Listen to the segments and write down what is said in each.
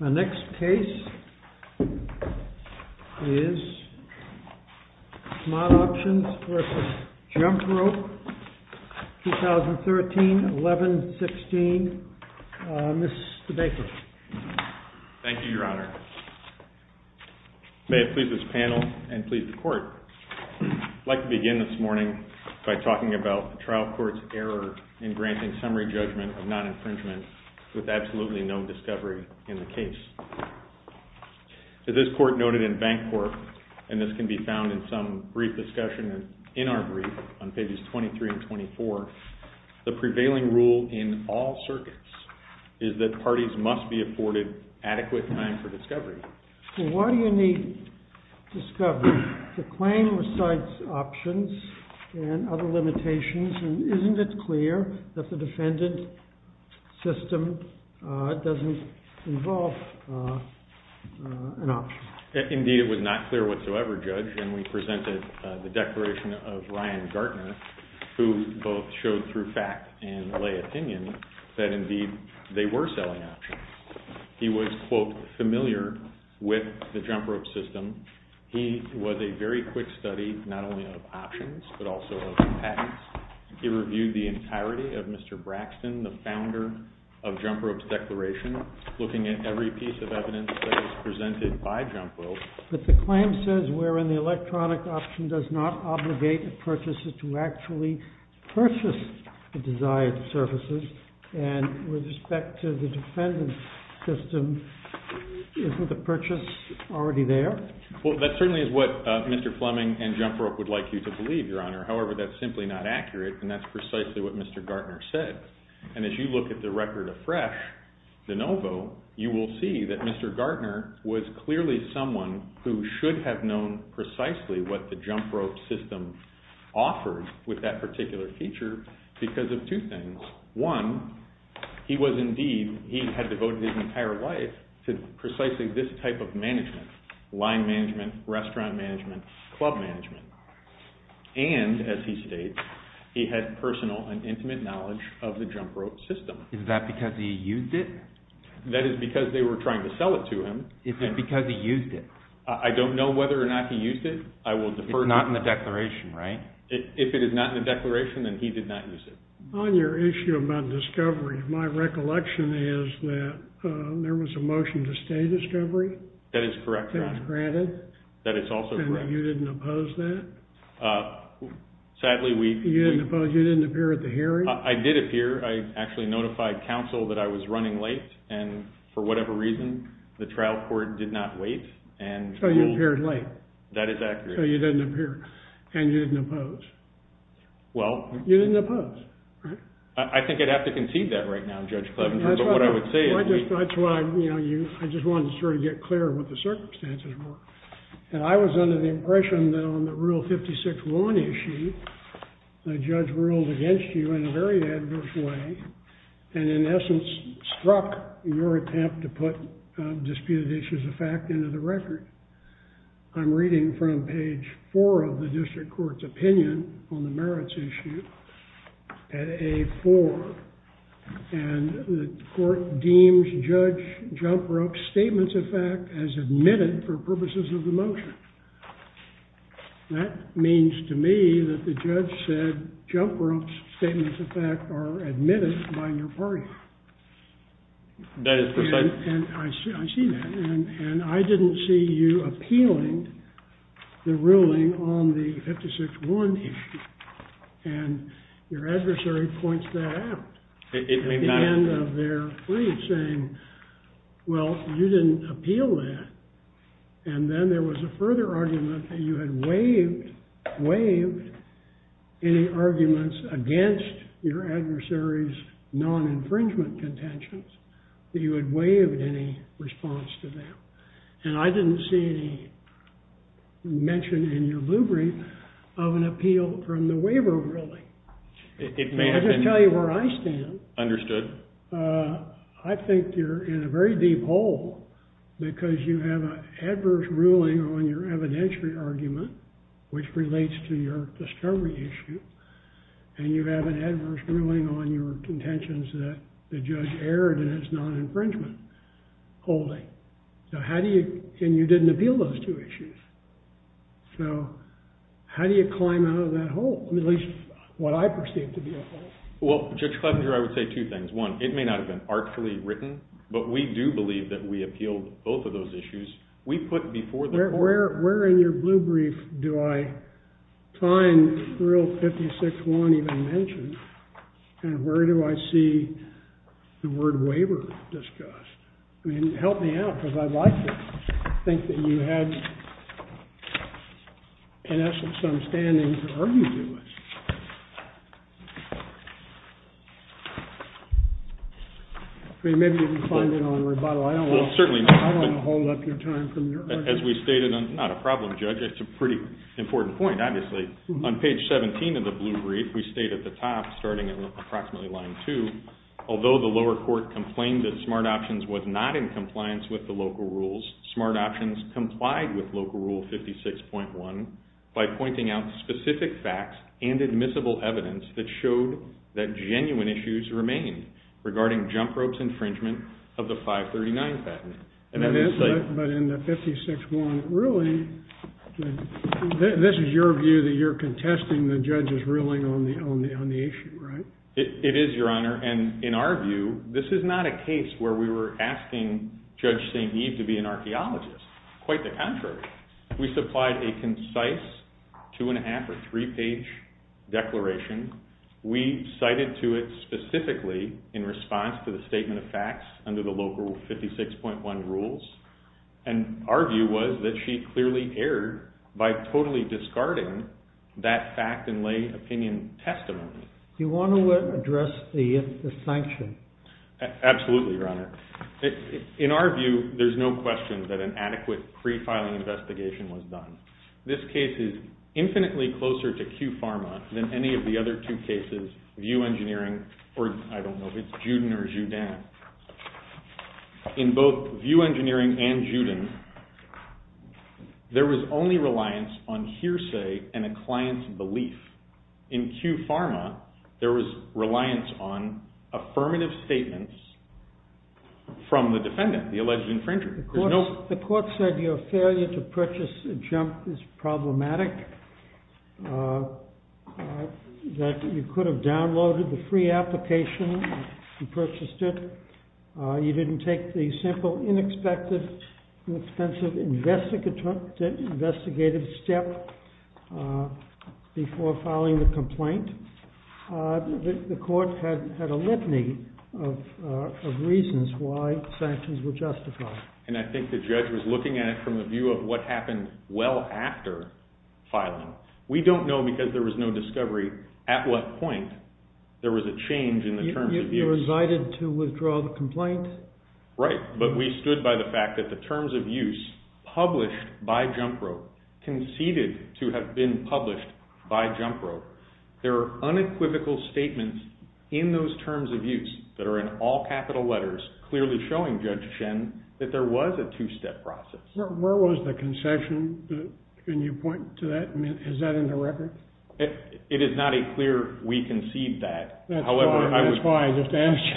The next case is Smart Options v. Jump Rope, 2013-11-16. Mr. Baker. Thank you, Your Honor. May it please this panel and please the court. I'd like to begin this morning by talking about the trial court's error in discovery in the case. As this court noted in Bank Corp., and this can be found in some brief discussion in our brief on pages 23 and 24, the prevailing rule in all circuits is that parties must be afforded adequate time for discovery. Why do you need discovery? The claim recites options and other limitations and isn't it clear that the defendant's system doesn't involve an option? Indeed, it was not clear whatsoever, Judge, and we presented the declaration of Ryan Gartner, who both showed through fact and lay opinion that indeed they were selling options. He was, quote, familiar with the jump rope system. He was a very quick study, not only of options, but also of patents. He reviewed the entirety of Mr. Braxton, the founder of Jump Rope's declaration, looking at every piece of evidence that was presented by Jump Rope. But the claim says wherein the electronic option does not obligate the purchaser to actually purchase the desired services, and with respect to the defendant's system, isn't the purchase already there? Well, that certainly is what Mr. Fleming and And that's precisely what Mr. Gartner said. And as you look at the record of Fresh, DeNovo, you will see that Mr. Gartner was clearly someone who should have known precisely what the Jump Rope system offered with that particular feature because of two things. One, he was indeed, he had devoted his entire life to precisely this type of management, line management, restaurant management, club management. And, as he states, he had personal and intimate knowledge of the Jump Rope system. Is that because he used it? That is because they were trying to sell it to him. Is it because he used it? I don't know whether or not he used it. I will defer to you. It's not in the declaration, right? If it is not in the declaration, then he did not use it. On your issue about discovery, my recollection is that there was a motion to stay discovery? That is correct, Your Honor. That was granted? That is also correct. And that you didn't oppose that? Sadly, we... You didn't appear at the hearing? I did appear. I actually notified counsel that I was running late. And for whatever reason, the trial court did not wait. So you appeared late? That is accurate. So you didn't appear. And you didn't oppose? Well... You didn't oppose, right? I think I'd have to concede that right now, Judge Cleveland. But what I would say is... I just wanted to sort of get clear of what the circumstances were. And I was under the impression that on the Rule 56-1 issue, the judge ruled against you in a very adverse way, and in essence, struck your attempt to put disputed issues of fact into the record. I'm reading from page 4 of the district court's opinion on the merits issue at A4. And the court deems Judge Jumprope's statements of fact as admitted for purposes of the motion. That means to me that the judge said Jumprope's statements of fact are admitted by your party. That is precise. And I see that. And I didn't see you appealing the ruling on the 56-1 issue. And your adversary points that out. It may matter. At the end of their brief, saying, well, you didn't appeal that. And then there was a further argument that you had waived any arguments against your adversary's non-infringement contentions, that you had waived any response to them. And I didn't see any mention in your blue brief of an appeal from the waiver ruling. It may have been. I can tell you where I stand. Understood. I think you're in a very deep hole, because you have an adverse ruling on your evidentiary argument, which relates to your discovery issue. And you have an adverse ruling on your contentions that the judge erred in its non-infringement holding. And you didn't appeal those two issues. So how do you climb out of that hole, at least what I perceive to be a hole? Well, Judge Clevenger, I would say two things. One, it may not have been artfully written. But we do believe that we appealed both of those issues. We put before the court— Where in your blue brief do I find Rule 56-1 even mentioned? And where do I see the word waiver discussed? I mean, help me out, because I'd like to think that you had, in essence, some standing to argue to it. I mean, maybe you can find it on rebuttal. I don't want to hold up your time from your argument. As we stated—not a problem, Judge. It's a pretty important point, obviously. On page 17 of the blue brief, we state at the top, starting at approximately line 2, Although the lower court complained that Smart Options was not in compliance with the local rules, Smart Options complied with Local Rule 56.1 by pointing out specific facts and admissible evidence that showed that genuine issues remained regarding Jump Rope's infringement of the 539 patent. But in the 56.1 ruling, this is your view that you're contesting the judge's ruling on the issue, right? It is, Your Honor. And in our view, this is not a case where we were asking Judge St. Eve to be an archaeologist. Quite the contrary. We supplied a concise two-and-a-half or three-page declaration. We cited to it specifically in response to the statement of facts under the Local Rule 56.1 rules. And our view was that she clearly erred by totally discarding that fact and lay opinion testimony. Do you want to address the sanction? Absolutely, Your Honor. In our view, there's no question that an adequate pre-filing investigation was done. This case is infinitely closer to QPharma than any of the other two cases, VIEW Engineering or, I don't know if it's Juden or Judan. In both VIEW Engineering and Juden, there was only reliance on hearsay and a client's belief. In QPharma, there was reliance on affirmative statements from the defendant, the alleged infringer. The court said your failure to purchase a jump is problematic. That you could have downloaded the free application, you purchased it. You didn't take the simple, inexpensive investigative step before filing the complaint. The court had a litany of reasons why sanctions were justified. And I think the judge was looking at it from the view of what happened well after filing. We don't know because there was no discovery at what point there was a change in the terms of use. You resided to withdraw the complaint? Right, but we stood by the fact that the terms of use published by Jump Rope conceded to have been published by Jump Rope. There are unequivocal statements in those terms of use that are in all capital letters clearly showing Judge Shen that there was a two-step process. Where was the concession? Can you point to that? Is that in the record? It is not a clear, we concede that. That's why I just asked you.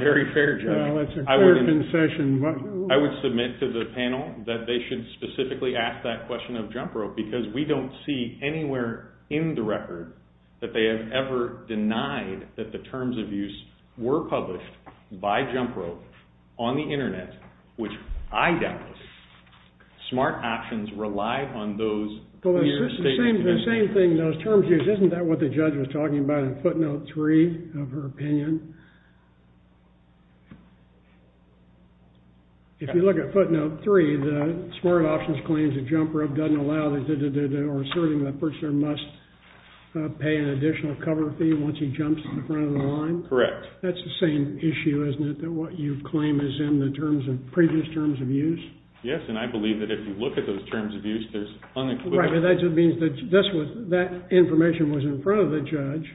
Very fair, Judge. That's a clear concession. I would submit to the panel that they should specifically ask that question of Jump Rope because we don't see anywhere in the record that they have ever denied that the terms of use were published by Jump Rope on the internet, which I doubt. Smart options rely on those clear statements. The same thing, those terms of use, isn't that what the judge was talking about in footnote 3 of her opinion? If you look at footnote 3, the smart options claims that Jump Rope doesn't allow or asserting that the purchaser must pay an additional cover fee once he jumps to the front of the line? Correct. That's the same issue, isn't it, that what you claim is in the previous terms of use? Yes, and I believe that if you look at those terms of use, there's unequivocal... Right, but that just means that that information was in front of the judge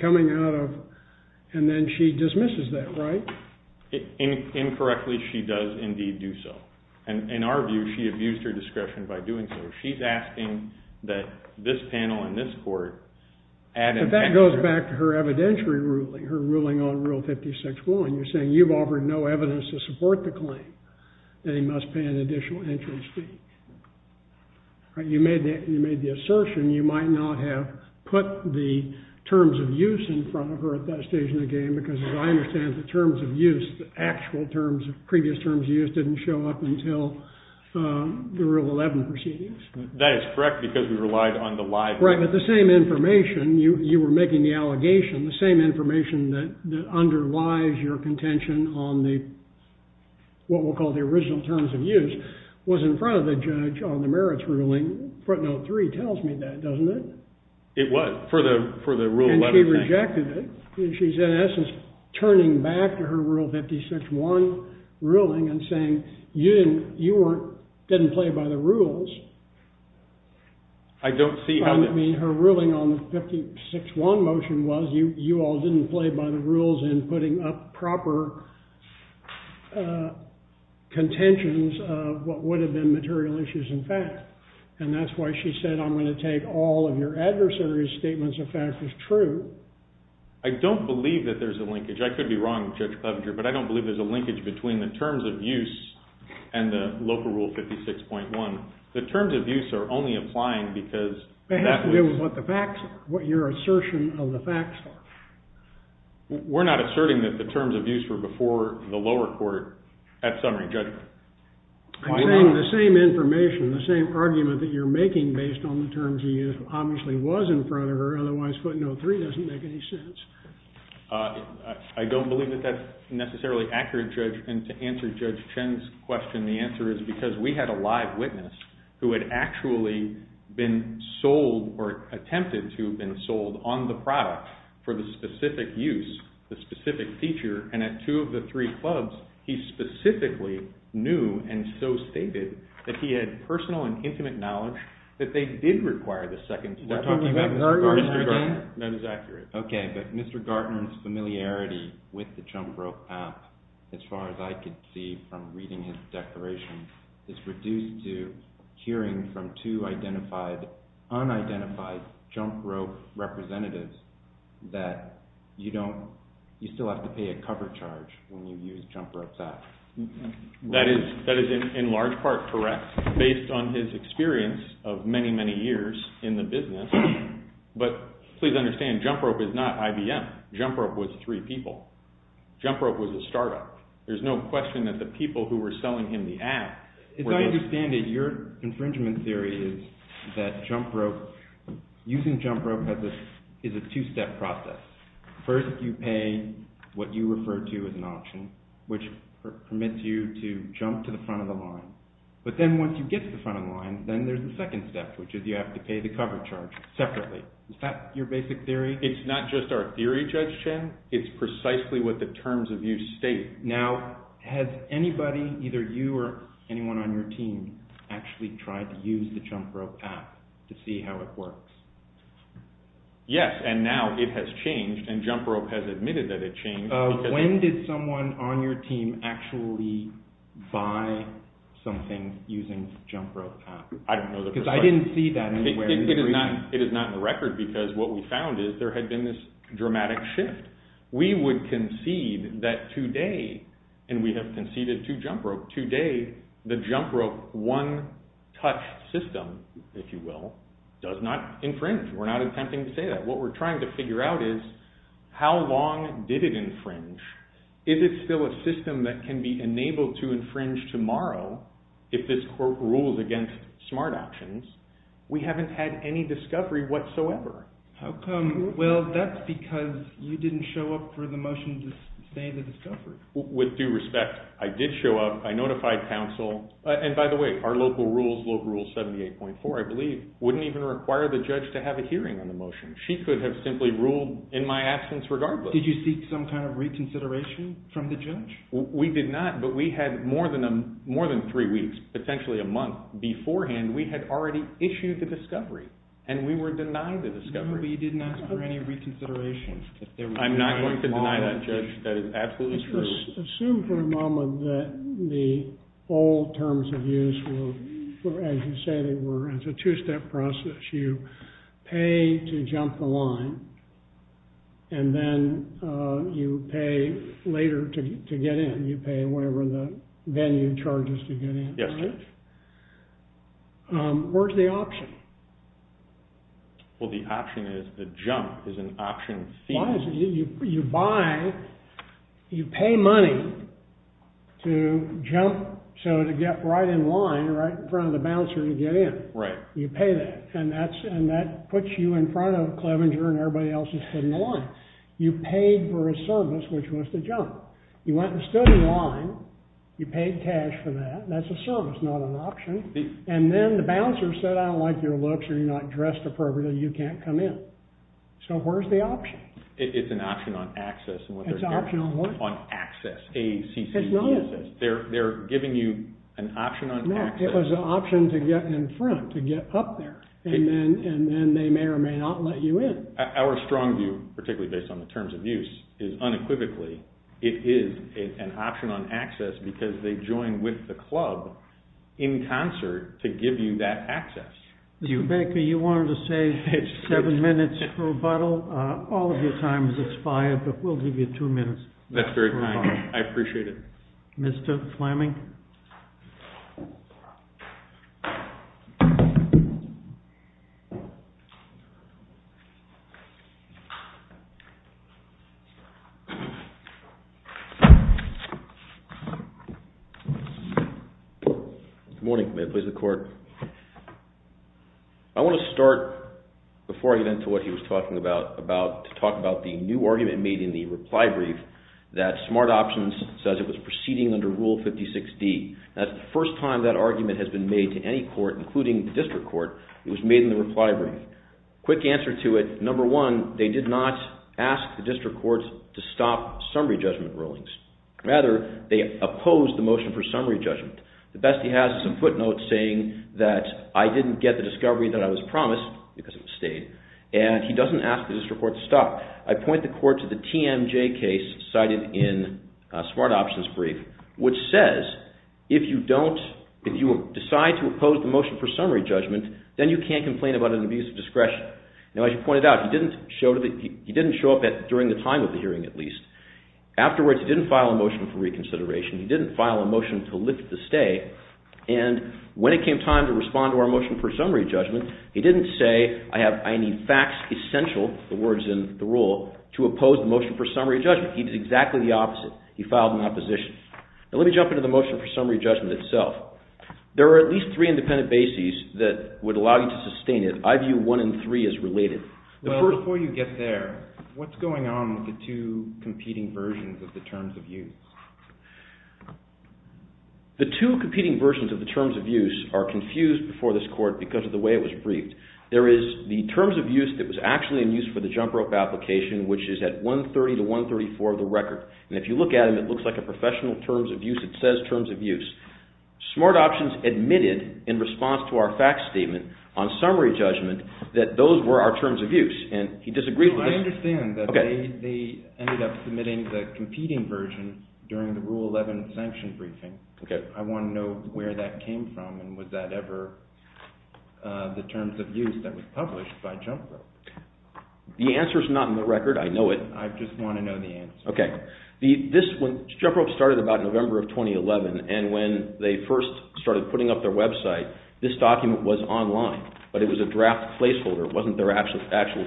coming out of, and then she dismisses that, right? Incorrectly, she does indeed do so. And in our view, she abused her discretion by doing so. She's asking that this panel and this court add... But that goes back to her evidentiary ruling, her ruling on Rule 56.1. You're saying you've offered no evidence to support the claim that he must pay an additional entrance fee. You made the assertion you might not have put the terms of use in front of her at that stage in the game, because as I understand it, the terms of use, the actual terms, previous terms of use, didn't show up until the Rule 11 proceedings. That is correct, because we relied on the live... Right, but the same information, you were making the allegation, the same information that underlies your contention on the... ...was in front of the judge on the merits ruling. Front Note 3 tells me that, doesn't it? It would, for the Rule 11. And she rejected it. She's in essence turning back to her Rule 56.1 ruling and saying, you didn't play by the rules. I don't see how this... I mean, her ruling on the 56.1 motion was, you all didn't play by the rules in putting up proper contentions of what would have been material issues and facts. And that's why she said, I'm going to take all of your adversary's statements of fact as true. I don't believe that there's a linkage. I could be wrong, Judge Clevenger, but I don't believe there's a linkage between the terms of use and the local Rule 56.1. The terms of use are only applying because... It has to do with what the facts are, what your assertion of the facts are. We're not asserting that the terms of use were before the lower court at summary judgment. I'm saying the same information, the same argument that you're making based on the terms of use obviously was in front of her. Otherwise, footnote 3 doesn't make any sense. I don't believe that that's necessarily accurate, Judge. And to answer Judge Chen's question, the answer is because we had a live witness who had actually been sold or attempted to have been sold on the product for the specific use, the specific feature. And at two of the three clubs, he specifically knew and so stated that he had personal and intimate knowledge that they did require the second... Is that talking about Mr. Gartner again? That is accurate. Okay, but Mr. Gartner's familiarity with the Jump Rope app, as far as I could see from reading his declaration, is reduced to hearing from two unidentified Jump Rope representatives that you still have to pay a cover charge when you use Jump Rope's app. That is in large part correct, based on his experience of many, many years in the business. But please understand, Jump Rope is not IBM. Jump Rope was three people. Jump Rope was a startup. There's no question that the people who were selling him the app... As I understand it, your infringement theory is that using Jump Rope is a two-step process. First, you pay what you refer to as an auction, which permits you to jump to the front of the line. But then once you get to the front of the line, then there's the second step, which is you have to pay the cover charge separately. Is that your basic theory? It's not just our theory, Judge Chen. It's precisely what the terms of use state. Now, has anybody, either you or anyone on your team, actually tried to use the Jump Rope app to see how it works? Yes, and now it has changed, and Jump Rope has admitted that it changed. When did someone on your team actually buy something using the Jump Rope app? I don't know the first part. Because I didn't see that anywhere. It is not in the record, because what we found is there had been this dramatic shift. We would concede that today, and we have conceded to Jump Rope, today the Jump Rope one-touch system, if you will, does not infringe. We're not attempting to say that. What we're trying to figure out is how long did it infringe? Is it still a system that can be enabled to infringe tomorrow if this court rules against smart actions? We haven't had any discovery whatsoever. How come? Well, that's because you didn't show up for the motion to say the discovery. With due respect, I did show up. And by the way, our local rules, Local Rule 78.4, I believe, wouldn't even require the judge to have a hearing on the motion. She could have simply ruled in my absence regardless. Did you seek some kind of reconsideration from the judge? We did not, but we had more than three weeks, potentially a month beforehand, we had already issued the discovery, and we were denied the discovery. No, but you didn't ask for any reconsideration. I'm not going to deny that, Judge. That is absolutely true. Assume for a moment that the old terms of use were, as you say, were as a two-step process. You pay to jump the line, and then you pay later to get in. You pay whatever the venue charges to get in. Yes, Judge. Where's the option? Well, the option is, the jump is an option fee. Why is it? You buy, you pay money to jump, so to get right in line, right in front of the bouncer to get in. You pay that, and that puts you in front of Clevenger and everybody else who's sitting in line. You paid for a service, which was the jump. You went and stood in line. You paid cash for that. That's a service, not an option. And then the bouncer said, I don't like your looks, or you're not dressed appropriately, you can't come in. So where's the option? It's an option on access. It's an option on what? On access, A, C, C, D, E, S, S. It's not. They're giving you an option on access. No, it was an option to get in front, to get up there. And then they may or may not let you in. Our strong view, particularly based on the terms of use, is unequivocally, it is an option on access because they join with the club in concert to give you that access. Mr. Baker, you wanted to say seven minutes for a bottle. All of your time is expired, but we'll give you two minutes. That's very kind. I appreciate it. Mr. Fleming? Good morning. May it please the Court. I want to start, before I get into what he was talking about, to talk about the new argument made in the reply brief that Smart Options says it was proceeding under Rule 56D. That's the first time that argument has been made to any court, including the district court. It was made in the reply brief. Quick answer to it. Number one, they did not ask the district courts to stop summary judgment rulings. Rather, they opposed the motion for summary judgment. The best he has is some footnotes saying that I didn't get the discovery that I was promised because it was stayed, and he doesn't ask the district courts to stop. I point the Court to the TMJ case cited in Smart Options' brief, which says if you decide to oppose the motion for summary judgment, then you can't complain about an abuse of discretion. Now, as you pointed out, he didn't show up during the time of the hearing, at least. Afterwards, he didn't file a motion for reconsideration. He didn't file a motion to lift the stay. And when it came time to respond to our motion for summary judgment, he didn't say, I need facts essential, the words in the rule, to oppose the motion for summary judgment. He did exactly the opposite. He filed an opposition. Now, let me jump into the motion for summary judgment itself. There are at least three independent bases that would allow you to sustain it. I view one and three as related. Well, before you get there, what's going on with the two competing versions of the terms of use? The two competing versions of the terms of use are confused before this Court because of the way it was briefed. There is the terms of use that was actually in use for the jump rope application, which is at 130 to 134 of the record. And if you look at them, it looks like a professional terms of use. It says terms of use. Smart Options admitted in response to our fact statement on summary judgment that those were our terms of use. And he disagrees with this. I understand that they ended up submitting the competing version during the Rule 11 sanction briefing. Okay. I want to know where that came from and was that ever the terms of use that was published by Jump Rope? The answer is not in the record. I know it. I just want to know the answer. Okay. Jump Rope started about November of 2011 and when they first started putting up their website, this document was online, but it was a draft placeholder. It wasn't their actual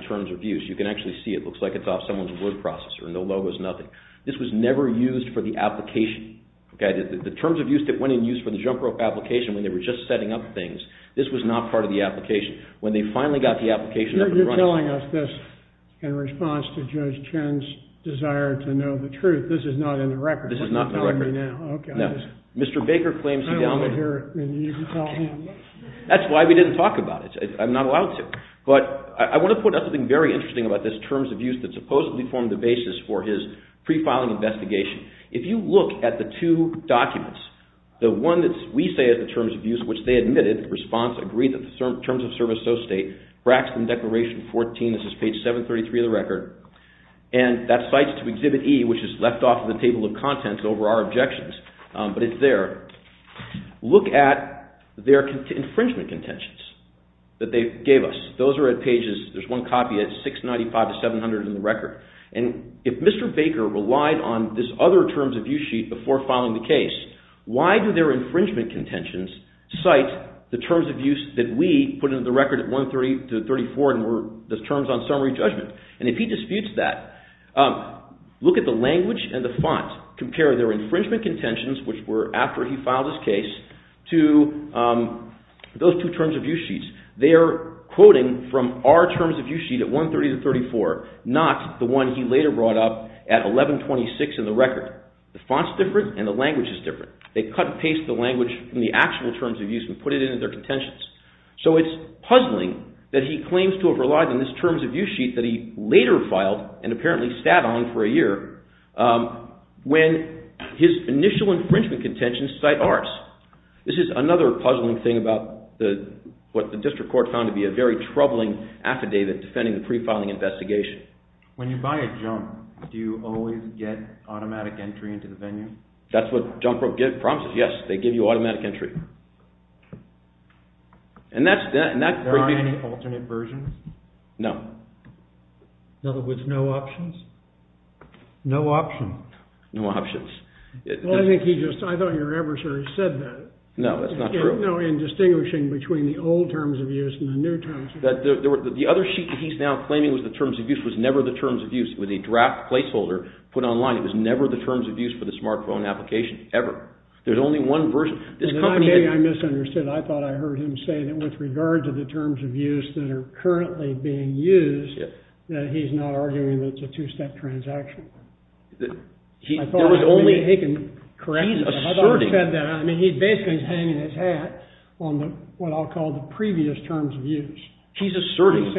terms of use. You can actually see it. It looks like it's off someone's word processor and the logo is nothing. This was never used for the application. The terms of use that went in use for the Jump Rope application when they were just setting up things, this was not part of the application. When they finally got the application up and running... You're telling us this in response to Judge Chen's desire to know the truth. This is not in the record. This is not in the record. Okay. Mr. Baker claims he downloaded... I want to hear it and you can tell him. That's why we didn't talk about it. I'm not allowed to. But I want to point out something very interesting about this terms of use that supposedly formed the basis for his pre-filing investigation. If you look at the two documents, the one that we say is the terms of use which they admitted, the response agreed that the terms of service so state, Braxton Declaration 14, this is page 733 of the record, and that cites to Exhibit E which is left off of the table of contents over our objections, but it's there. Look at their infringement contentions that they gave us. Those are at pages... There's one copy at 695 to 700 in the record. And if Mr. Baker relied on this other terms of use sheet before filing the case, why do their infringement contentions cite the terms of use that we put into the record at 130 to 34 and were the terms on summary judgment? And if he disputes that, look at the language and the font. Compare their infringement contentions which were after he filed his case to those two terms of use sheets. They are quoting from our terms of use sheet at 130 to 34, at 1126 in the record. The font's different and the language is different. They cut and paste the language from the actual terms of use and put it into their contentions. So it's puzzling that he claims to have relied on this terms of use sheet that he later filed and apparently sat on for a year when his initial infringement contentions cite ours. This is another puzzling thing about what the district court found to be a very troubling affidavit defending the pre-filing investigation. When you buy a junk, do you always get automatic entry into the venue? That's what Junk Broke promises. Yes, they give you automatic entry. Are there any alternate versions? No. In other words, no options? No option. No options. I thought your adversary said that. No, that's not true. In distinguishing between the old terms of use and the new terms of use. The other sheet that he's now claiming was the terms of use was never the terms of use. It was a draft placeholder put online. It was never the terms of use for the smartphone application. Ever. There's only one version. Maybe I misunderstood. I thought I heard him say that with regard to the terms of use that are currently being used, that he's not arguing that it's a two-step transaction. He's asserting. I thought he said that. He's basically hanging his hat on what I'll call the previous terms of use. He's asserting.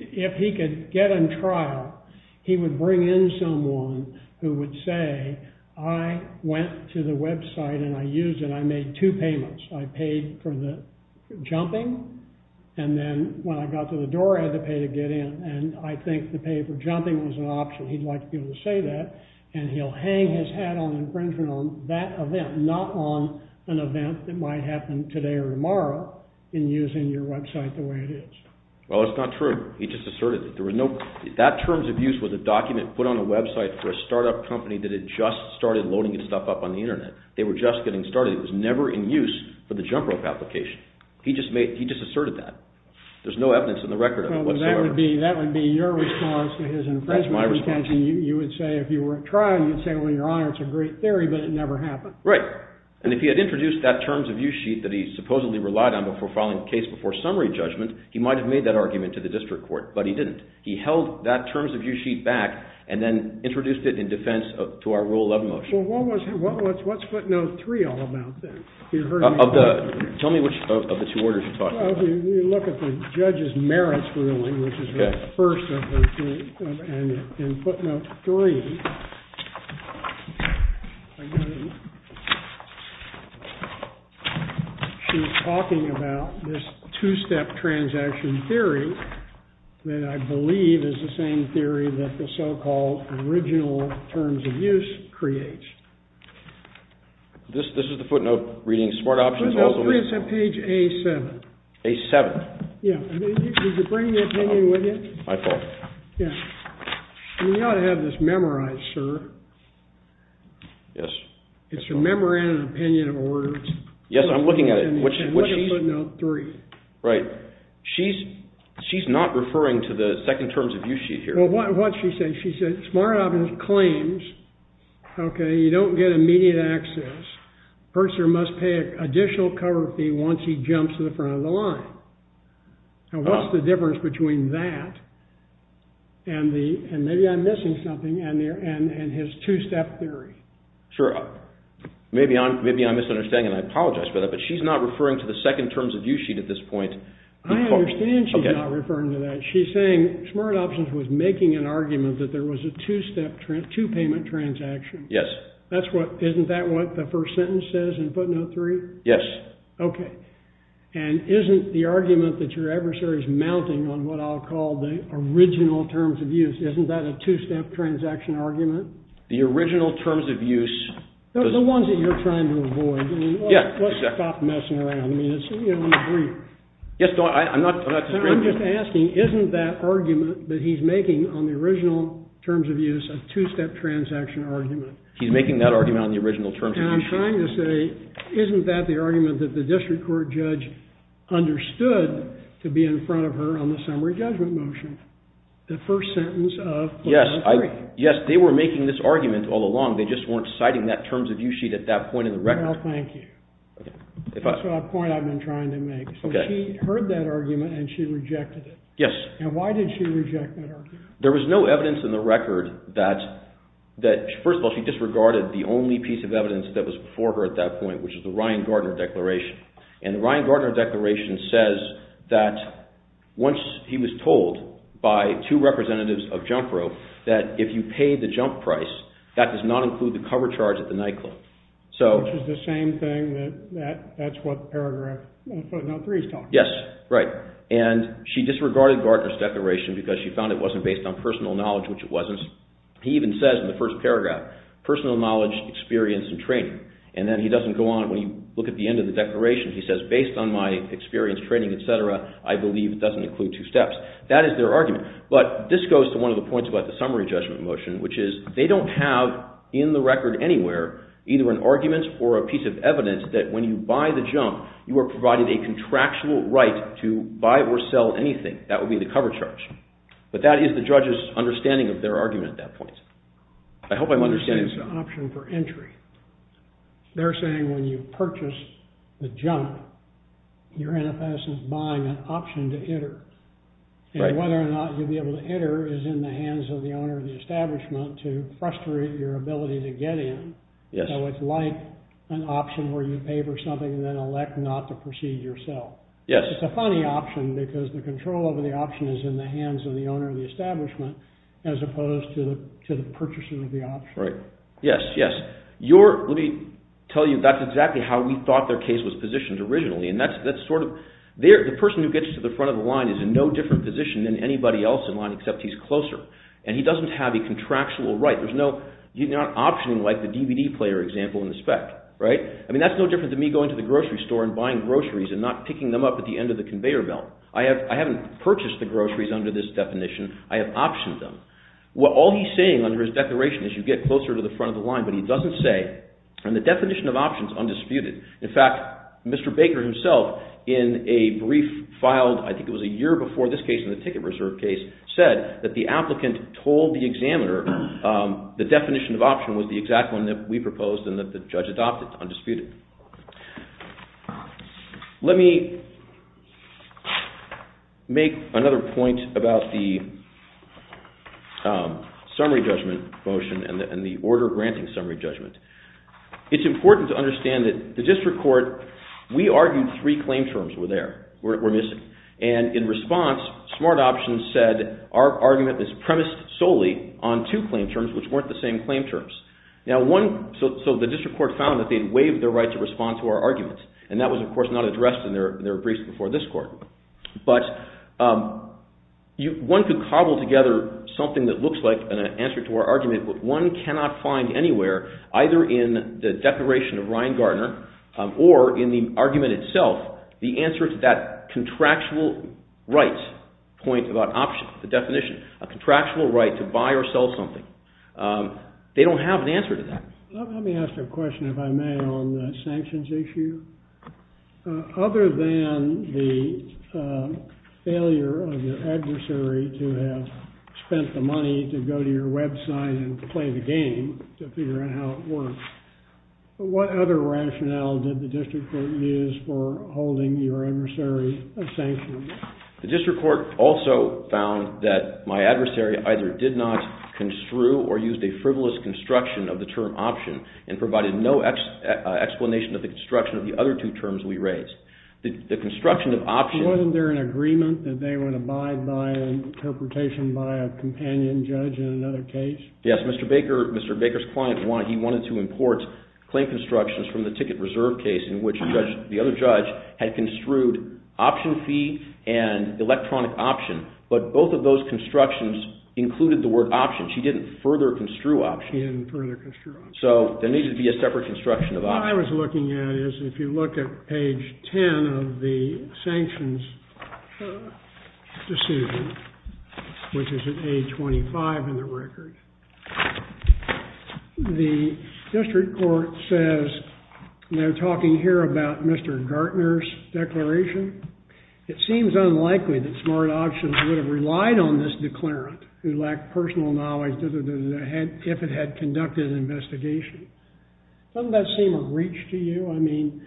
If he could get in trial, he would bring in someone who would say, I went to the website and I used it. I made two payments. I paid for the jumping and then when I got to the door, I had to pay to get in and I think the pay for jumping was an option. He'd like to be able to say that and he'll hang his hat on infringement on that event, not on an event that might happen today or tomorrow in using your website the way it is. Well, it's not true. He just asserted. That terms of use was a document put on a website for a startup company that had just started loading its stuff up on the internet. They were just getting started. It was never in use for the jump rope application. He just asserted that. There's no evidence in the record. That would be your response to his infringement. That's my response. You would say, if you were in trial, you'd say, well, your Honor, it's a great theory, but it never happened. Right. And if he had introduced that terms of use sheet that he supposedly relied on before filing a case before summary judgment, he might have made that argument to the district court, but he didn't. He held that terms of use sheet back and then introduced it in defense to our rule of motion. What's footnote 3 all about then? Tell me which of the two orders you're talking about. Well, if you look at the judge's merits ruling, which is the first of the three, and in footnote 3, she's talking about this two-step transaction theory that I believe is the same theory that the so-called original terms of use creates. This is the footnote reading smart options also? Footnote 3 is at page A7. A7. Yeah. My fault. Yeah. You ought to have this memorized, sir. Yes. It's a memorandum of opinion of orders. Yes, I'm looking at it. And look at footnote 3. Right. She's not referring to the second terms of use sheet here. Well, what she said, she said smart options claims, okay, you don't get immediate access. The purchaser must pay an additional cover fee once he jumps to the front of the line. Now, what's the difference between that and maybe I'm missing something and his two-step theory? Sure. Maybe I'm misunderstanding, and I apologize for that, but she's not referring to the second terms of use sheet at this point. I understand she's not referring to that. She's saying smart options was making an argument that there was a two-step, two-payment transaction. Yes. Isn't that what the first sentence says in footnote 3? Yes. Okay. And isn't the argument that your adversary's mounting on what I'll call the original terms of use, isn't that a two-step transaction argument? The original terms of use... The ones that you're trying to avoid. Yeah, exactly. Let's stop messing around. I mean, it's, you know, in the brief. Yes, I'm not... I'm just asking, isn't that argument that he's making on the original terms of use a two-step transaction argument? He's making that argument on the original terms of use. And I'm trying to say, isn't that the argument that the district court judge understood to be in front of her on the summary judgment motion? The first sentence of footnote 3. Yes. They were making this argument all along. They just weren't citing that terms of use sheet at that point in the record. Well, thank you. That's the point I've been trying to make. So she heard that argument and she rejected it. Yes. And why did she reject that argument? There was no evidence in the record that, first of all, she disregarded the only piece of evidence that was before her at that point, which is the Ryan Gardner Declaration. And the Ryan Gardner Declaration says that once he was told by two representatives of Junk Row that if you pay the junk price, that does not include the cover charge at the nightclub. Which is the same thing that that's what the paragraph on footnote 3 is talking about. Yes. Right. And she disregarded Gardner's Declaration because she found it wasn't based on personal knowledge, which it wasn't. He even says in the first paragraph, personal knowledge, experience, and training. And then he doesn't go on. When you look at the end of the Declaration, he says, based on my experience, training, et cetera, I believe it doesn't include two steps. That is their argument. But this goes to one of the points about the Summary Judgment Motion, which is they don't have in the record anywhere either an argument or a piece of evidence that when you buy the junk, you are provided a contractual right to buy or sell anything. That would be the cover charge. But that is the judge's understanding of their argument at that point. I hope I'm understanding. I think it's an option for entry. They're saying when you purchase the junk, your NFS is buying an option to enter. And whether or not you'll be able to enter is in the hands of the owner of the establishment to frustrate your ability to get in. So it's like an option where you pay for something and then elect not to proceed yourself. It's a funny option because the control over the option is in the hands of the owner of the establishment as opposed to the purchases of the option. Yes, yes. Let me tell you, that's exactly how we thought their case was positioned originally. The person who gets to the front of the line is in no different position than anybody else in line except he's closer. And he doesn't have a contractual right. There's no option like the DVD player example in the spec. That's no different than me going to the grocery store and buying groceries and not picking them up at the end of the conveyor belt. I haven't purchased the groceries under this definition. I have optioned them. All he's saying under his declaration is you get closer to the front of the line, but he doesn't say, and the definition of option is undisputed. In fact, Mr. Baker himself in a brief filed I think it was a year before this case in the ticket reserve case said that the applicant told the examiner the definition of option was the exact one that we proposed and that the judge adopted, undisputed. Let me make another point about the summary judgment motion and the order granting summary judgment. It's important to understand that the district court, we argued three claim terms were there, were missing, and in response smart options said our argument is premised solely on two claim terms which weren't the same claim terms. So the district court found that they'd waived their right to respond to our argument and that was of course not addressed in their briefs before this court. But one could cobble together something that looks like an answer to our argument, but one cannot find anywhere either in the declaration of Ryan Gardner or in the argument itself the answer to that contractual right point about option, the definition, a contractual right to buy or sell something. They don't have an answer to that. Let me ask a question if I may on the sanctions issue. Other than the failure of your adversary to have spent the money to go to your website and play the game to figure out how it works, what other rationale did the district court use for holding your adversary a sanction? The district court also found that my adversary either did not construe or used a frivolous construction of the term option and provided no explanation of the construction of the other two terms we raised. The construction of option... Wasn't there an agreement that they would abide by an interpretation by a companion judge in another case? Yes, Mr. Baker's client, he wanted to import claim constructions from the ticket reserve case in which the other judge had construed option fee and electronic option, but both of those constructions included the word option. She didn't further construe option. She didn't further construe option. So there needed to be a separate construction of option. What I was looking at is if you look at page 10 of the sanctions decision, which is at page 25 in the record, the district court says, they're talking here about Mr. Gartner's declaration. It seems unlikely that smart options would have relied on this declarant who lacked personal knowledge if it had conducted an investigation. Doesn't that seem a breach to you? I mean,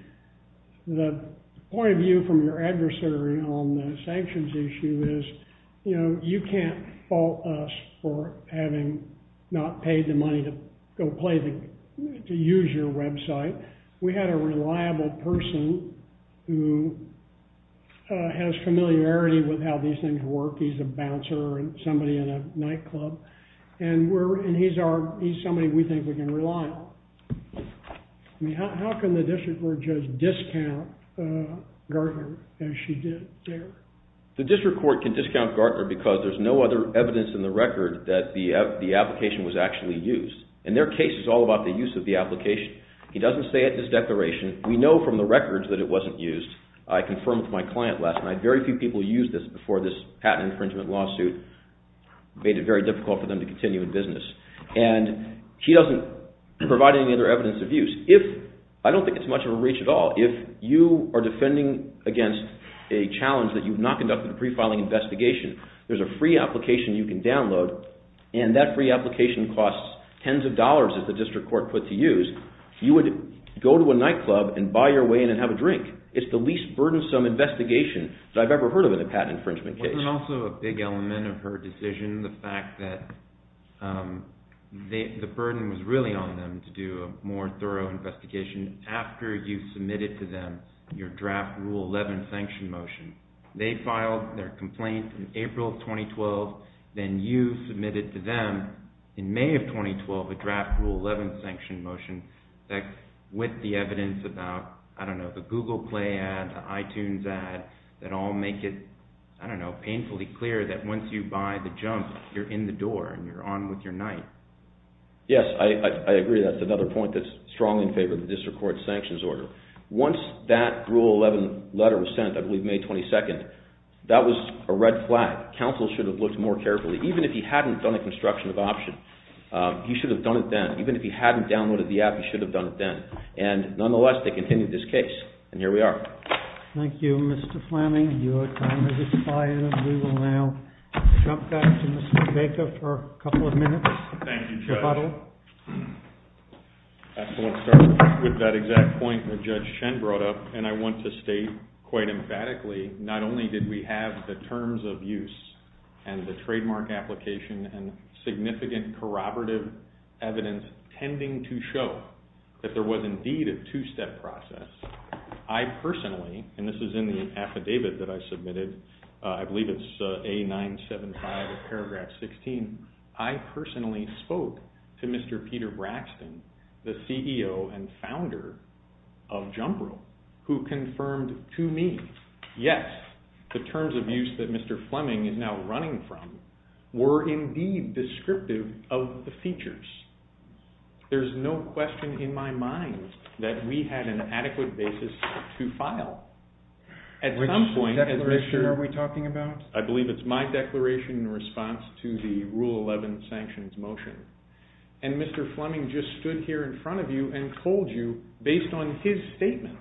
the point of view from your adversary on the sanctions issue is, you know, you can't fault us for having not paid the money to use your website. We had a reliable person who has familiarity with how these things work. He's a bouncer, somebody in a nightclub, and he's somebody we think we can rely on. I mean, how can the district court judge discount Gartner as she did there? The district court can discount Gartner because there's no other evidence in the record that the application was actually used. And their case is all about the use of the application. He doesn't say it in his declaration. We know from the records that it wasn't used. I confirmed with my client last night, very few people used this before this patent infringement lawsuit made it very difficult for them to continue in business. And he doesn't provide any other evidence of use. I don't think it's much of a breach at all. If you are defending against a challenge that you've not conducted a pre-filing investigation, there's a free application you can download, and that free application costs tens of dollars, as the district court put to use. You would go to a nightclub and buy your way in and have a drink. It's the least burdensome investigation that I've ever heard of in a patent infringement case. There's also a big element of her decision, the fact that the burden was really on them to do a more thorough investigation after you submitted to them your draft Rule 11 sanction motion. They filed their complaint in April of 2012, then you submitted to them in May of 2012 a draft Rule 11 sanction motion that, with the evidence about, I don't know, the Google Play ad, the iTunes ad, that all make it, I don't know, painfully clear that once you buy the junk, you're in the door and you're on with your night. Yes, I agree. That's another point that's strongly in favor of the district court's sanctions order. Once that Rule 11 letter was sent, I believe May 22nd, that was a red flag. That counsel should have looked more carefully. Even if he hadn't done a construction of the option, he should have done it then. Even if he hadn't downloaded the app, he should have done it then. And, nonetheless, they continued this case. And here we are. Thank you, Mr. Fleming. Your time has expired and we will now jump back to Mr. Baker for a couple of minutes. Thank you, Judge. I want to start with that exact point that Judge Chen brought up and I want to state quite emphatically not only did we have the terms of use and the trademark application and significant corroborative evidence tending to show that there was indeed a two-step process, I personally, and this is in the affidavit that I submitted, I believe it's A975 of paragraph 16, I personally spoke to Mr. Peter Braxton, the CEO and founder of Jumbrill, who confirmed to me, yes, the terms of use that Mr. Fleming is now running from were indeed descriptive of the features. There's no question in my mind that we had an adequate basis to file. Which declaration are we talking about? I believe it's my declaration in response to the Rule 11 sanctions motion. And Mr. Fleming just stood here in front of you and told you, based on his statements,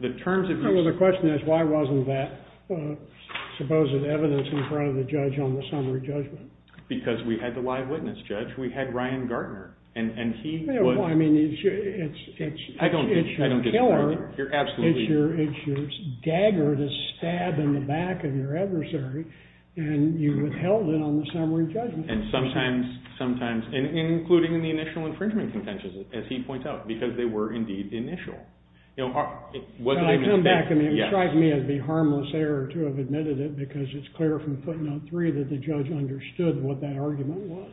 the terms of use... The question is, why wasn't that supposed evidence in front of the judge on the summary judgment? Because we had the live witness judge, we had Ryan Gartner, and he would... Well, I mean, it's... I don't disagree. It's your killer. You're absolutely... It's your dagger to stab in the back of your adversary, and you withheld it on the summary judgment. And sometimes, including in the initial infringement contentions, as he points out, because they were indeed initial. You know... When I come back, it would strike me as a harmless error to have admitted it because it's clear from footnote three that the judge understood what that argument was.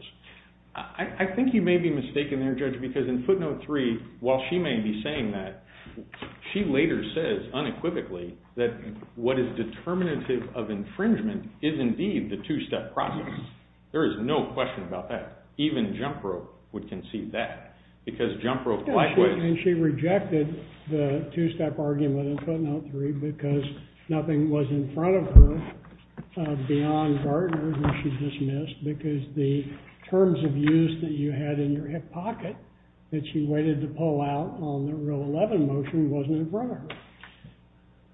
I think you may be mistaken there, Judge, because in footnote three, while she may be saying that, she later says unequivocally that what is determinative of infringement is indeed the two-step process. There is no question about that. Even Jump Rope would conceive that because Jump Rope... And she rejected the two-step argument in footnote three because nothing was in front of her beyond Gardner that she dismissed because the terms of use that you had in your hip pocket that she waited to pull out on the Rule 11 motion wasn't in front of her.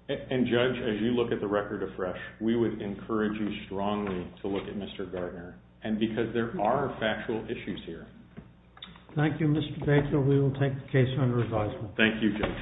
And, Judge, as you look at the record afresh, we would encourage you strongly to look at Mr. Gardner and because there are factual issues here. Thank you, Mr. Baker. We will take the case under advisement. Thank you, Judge.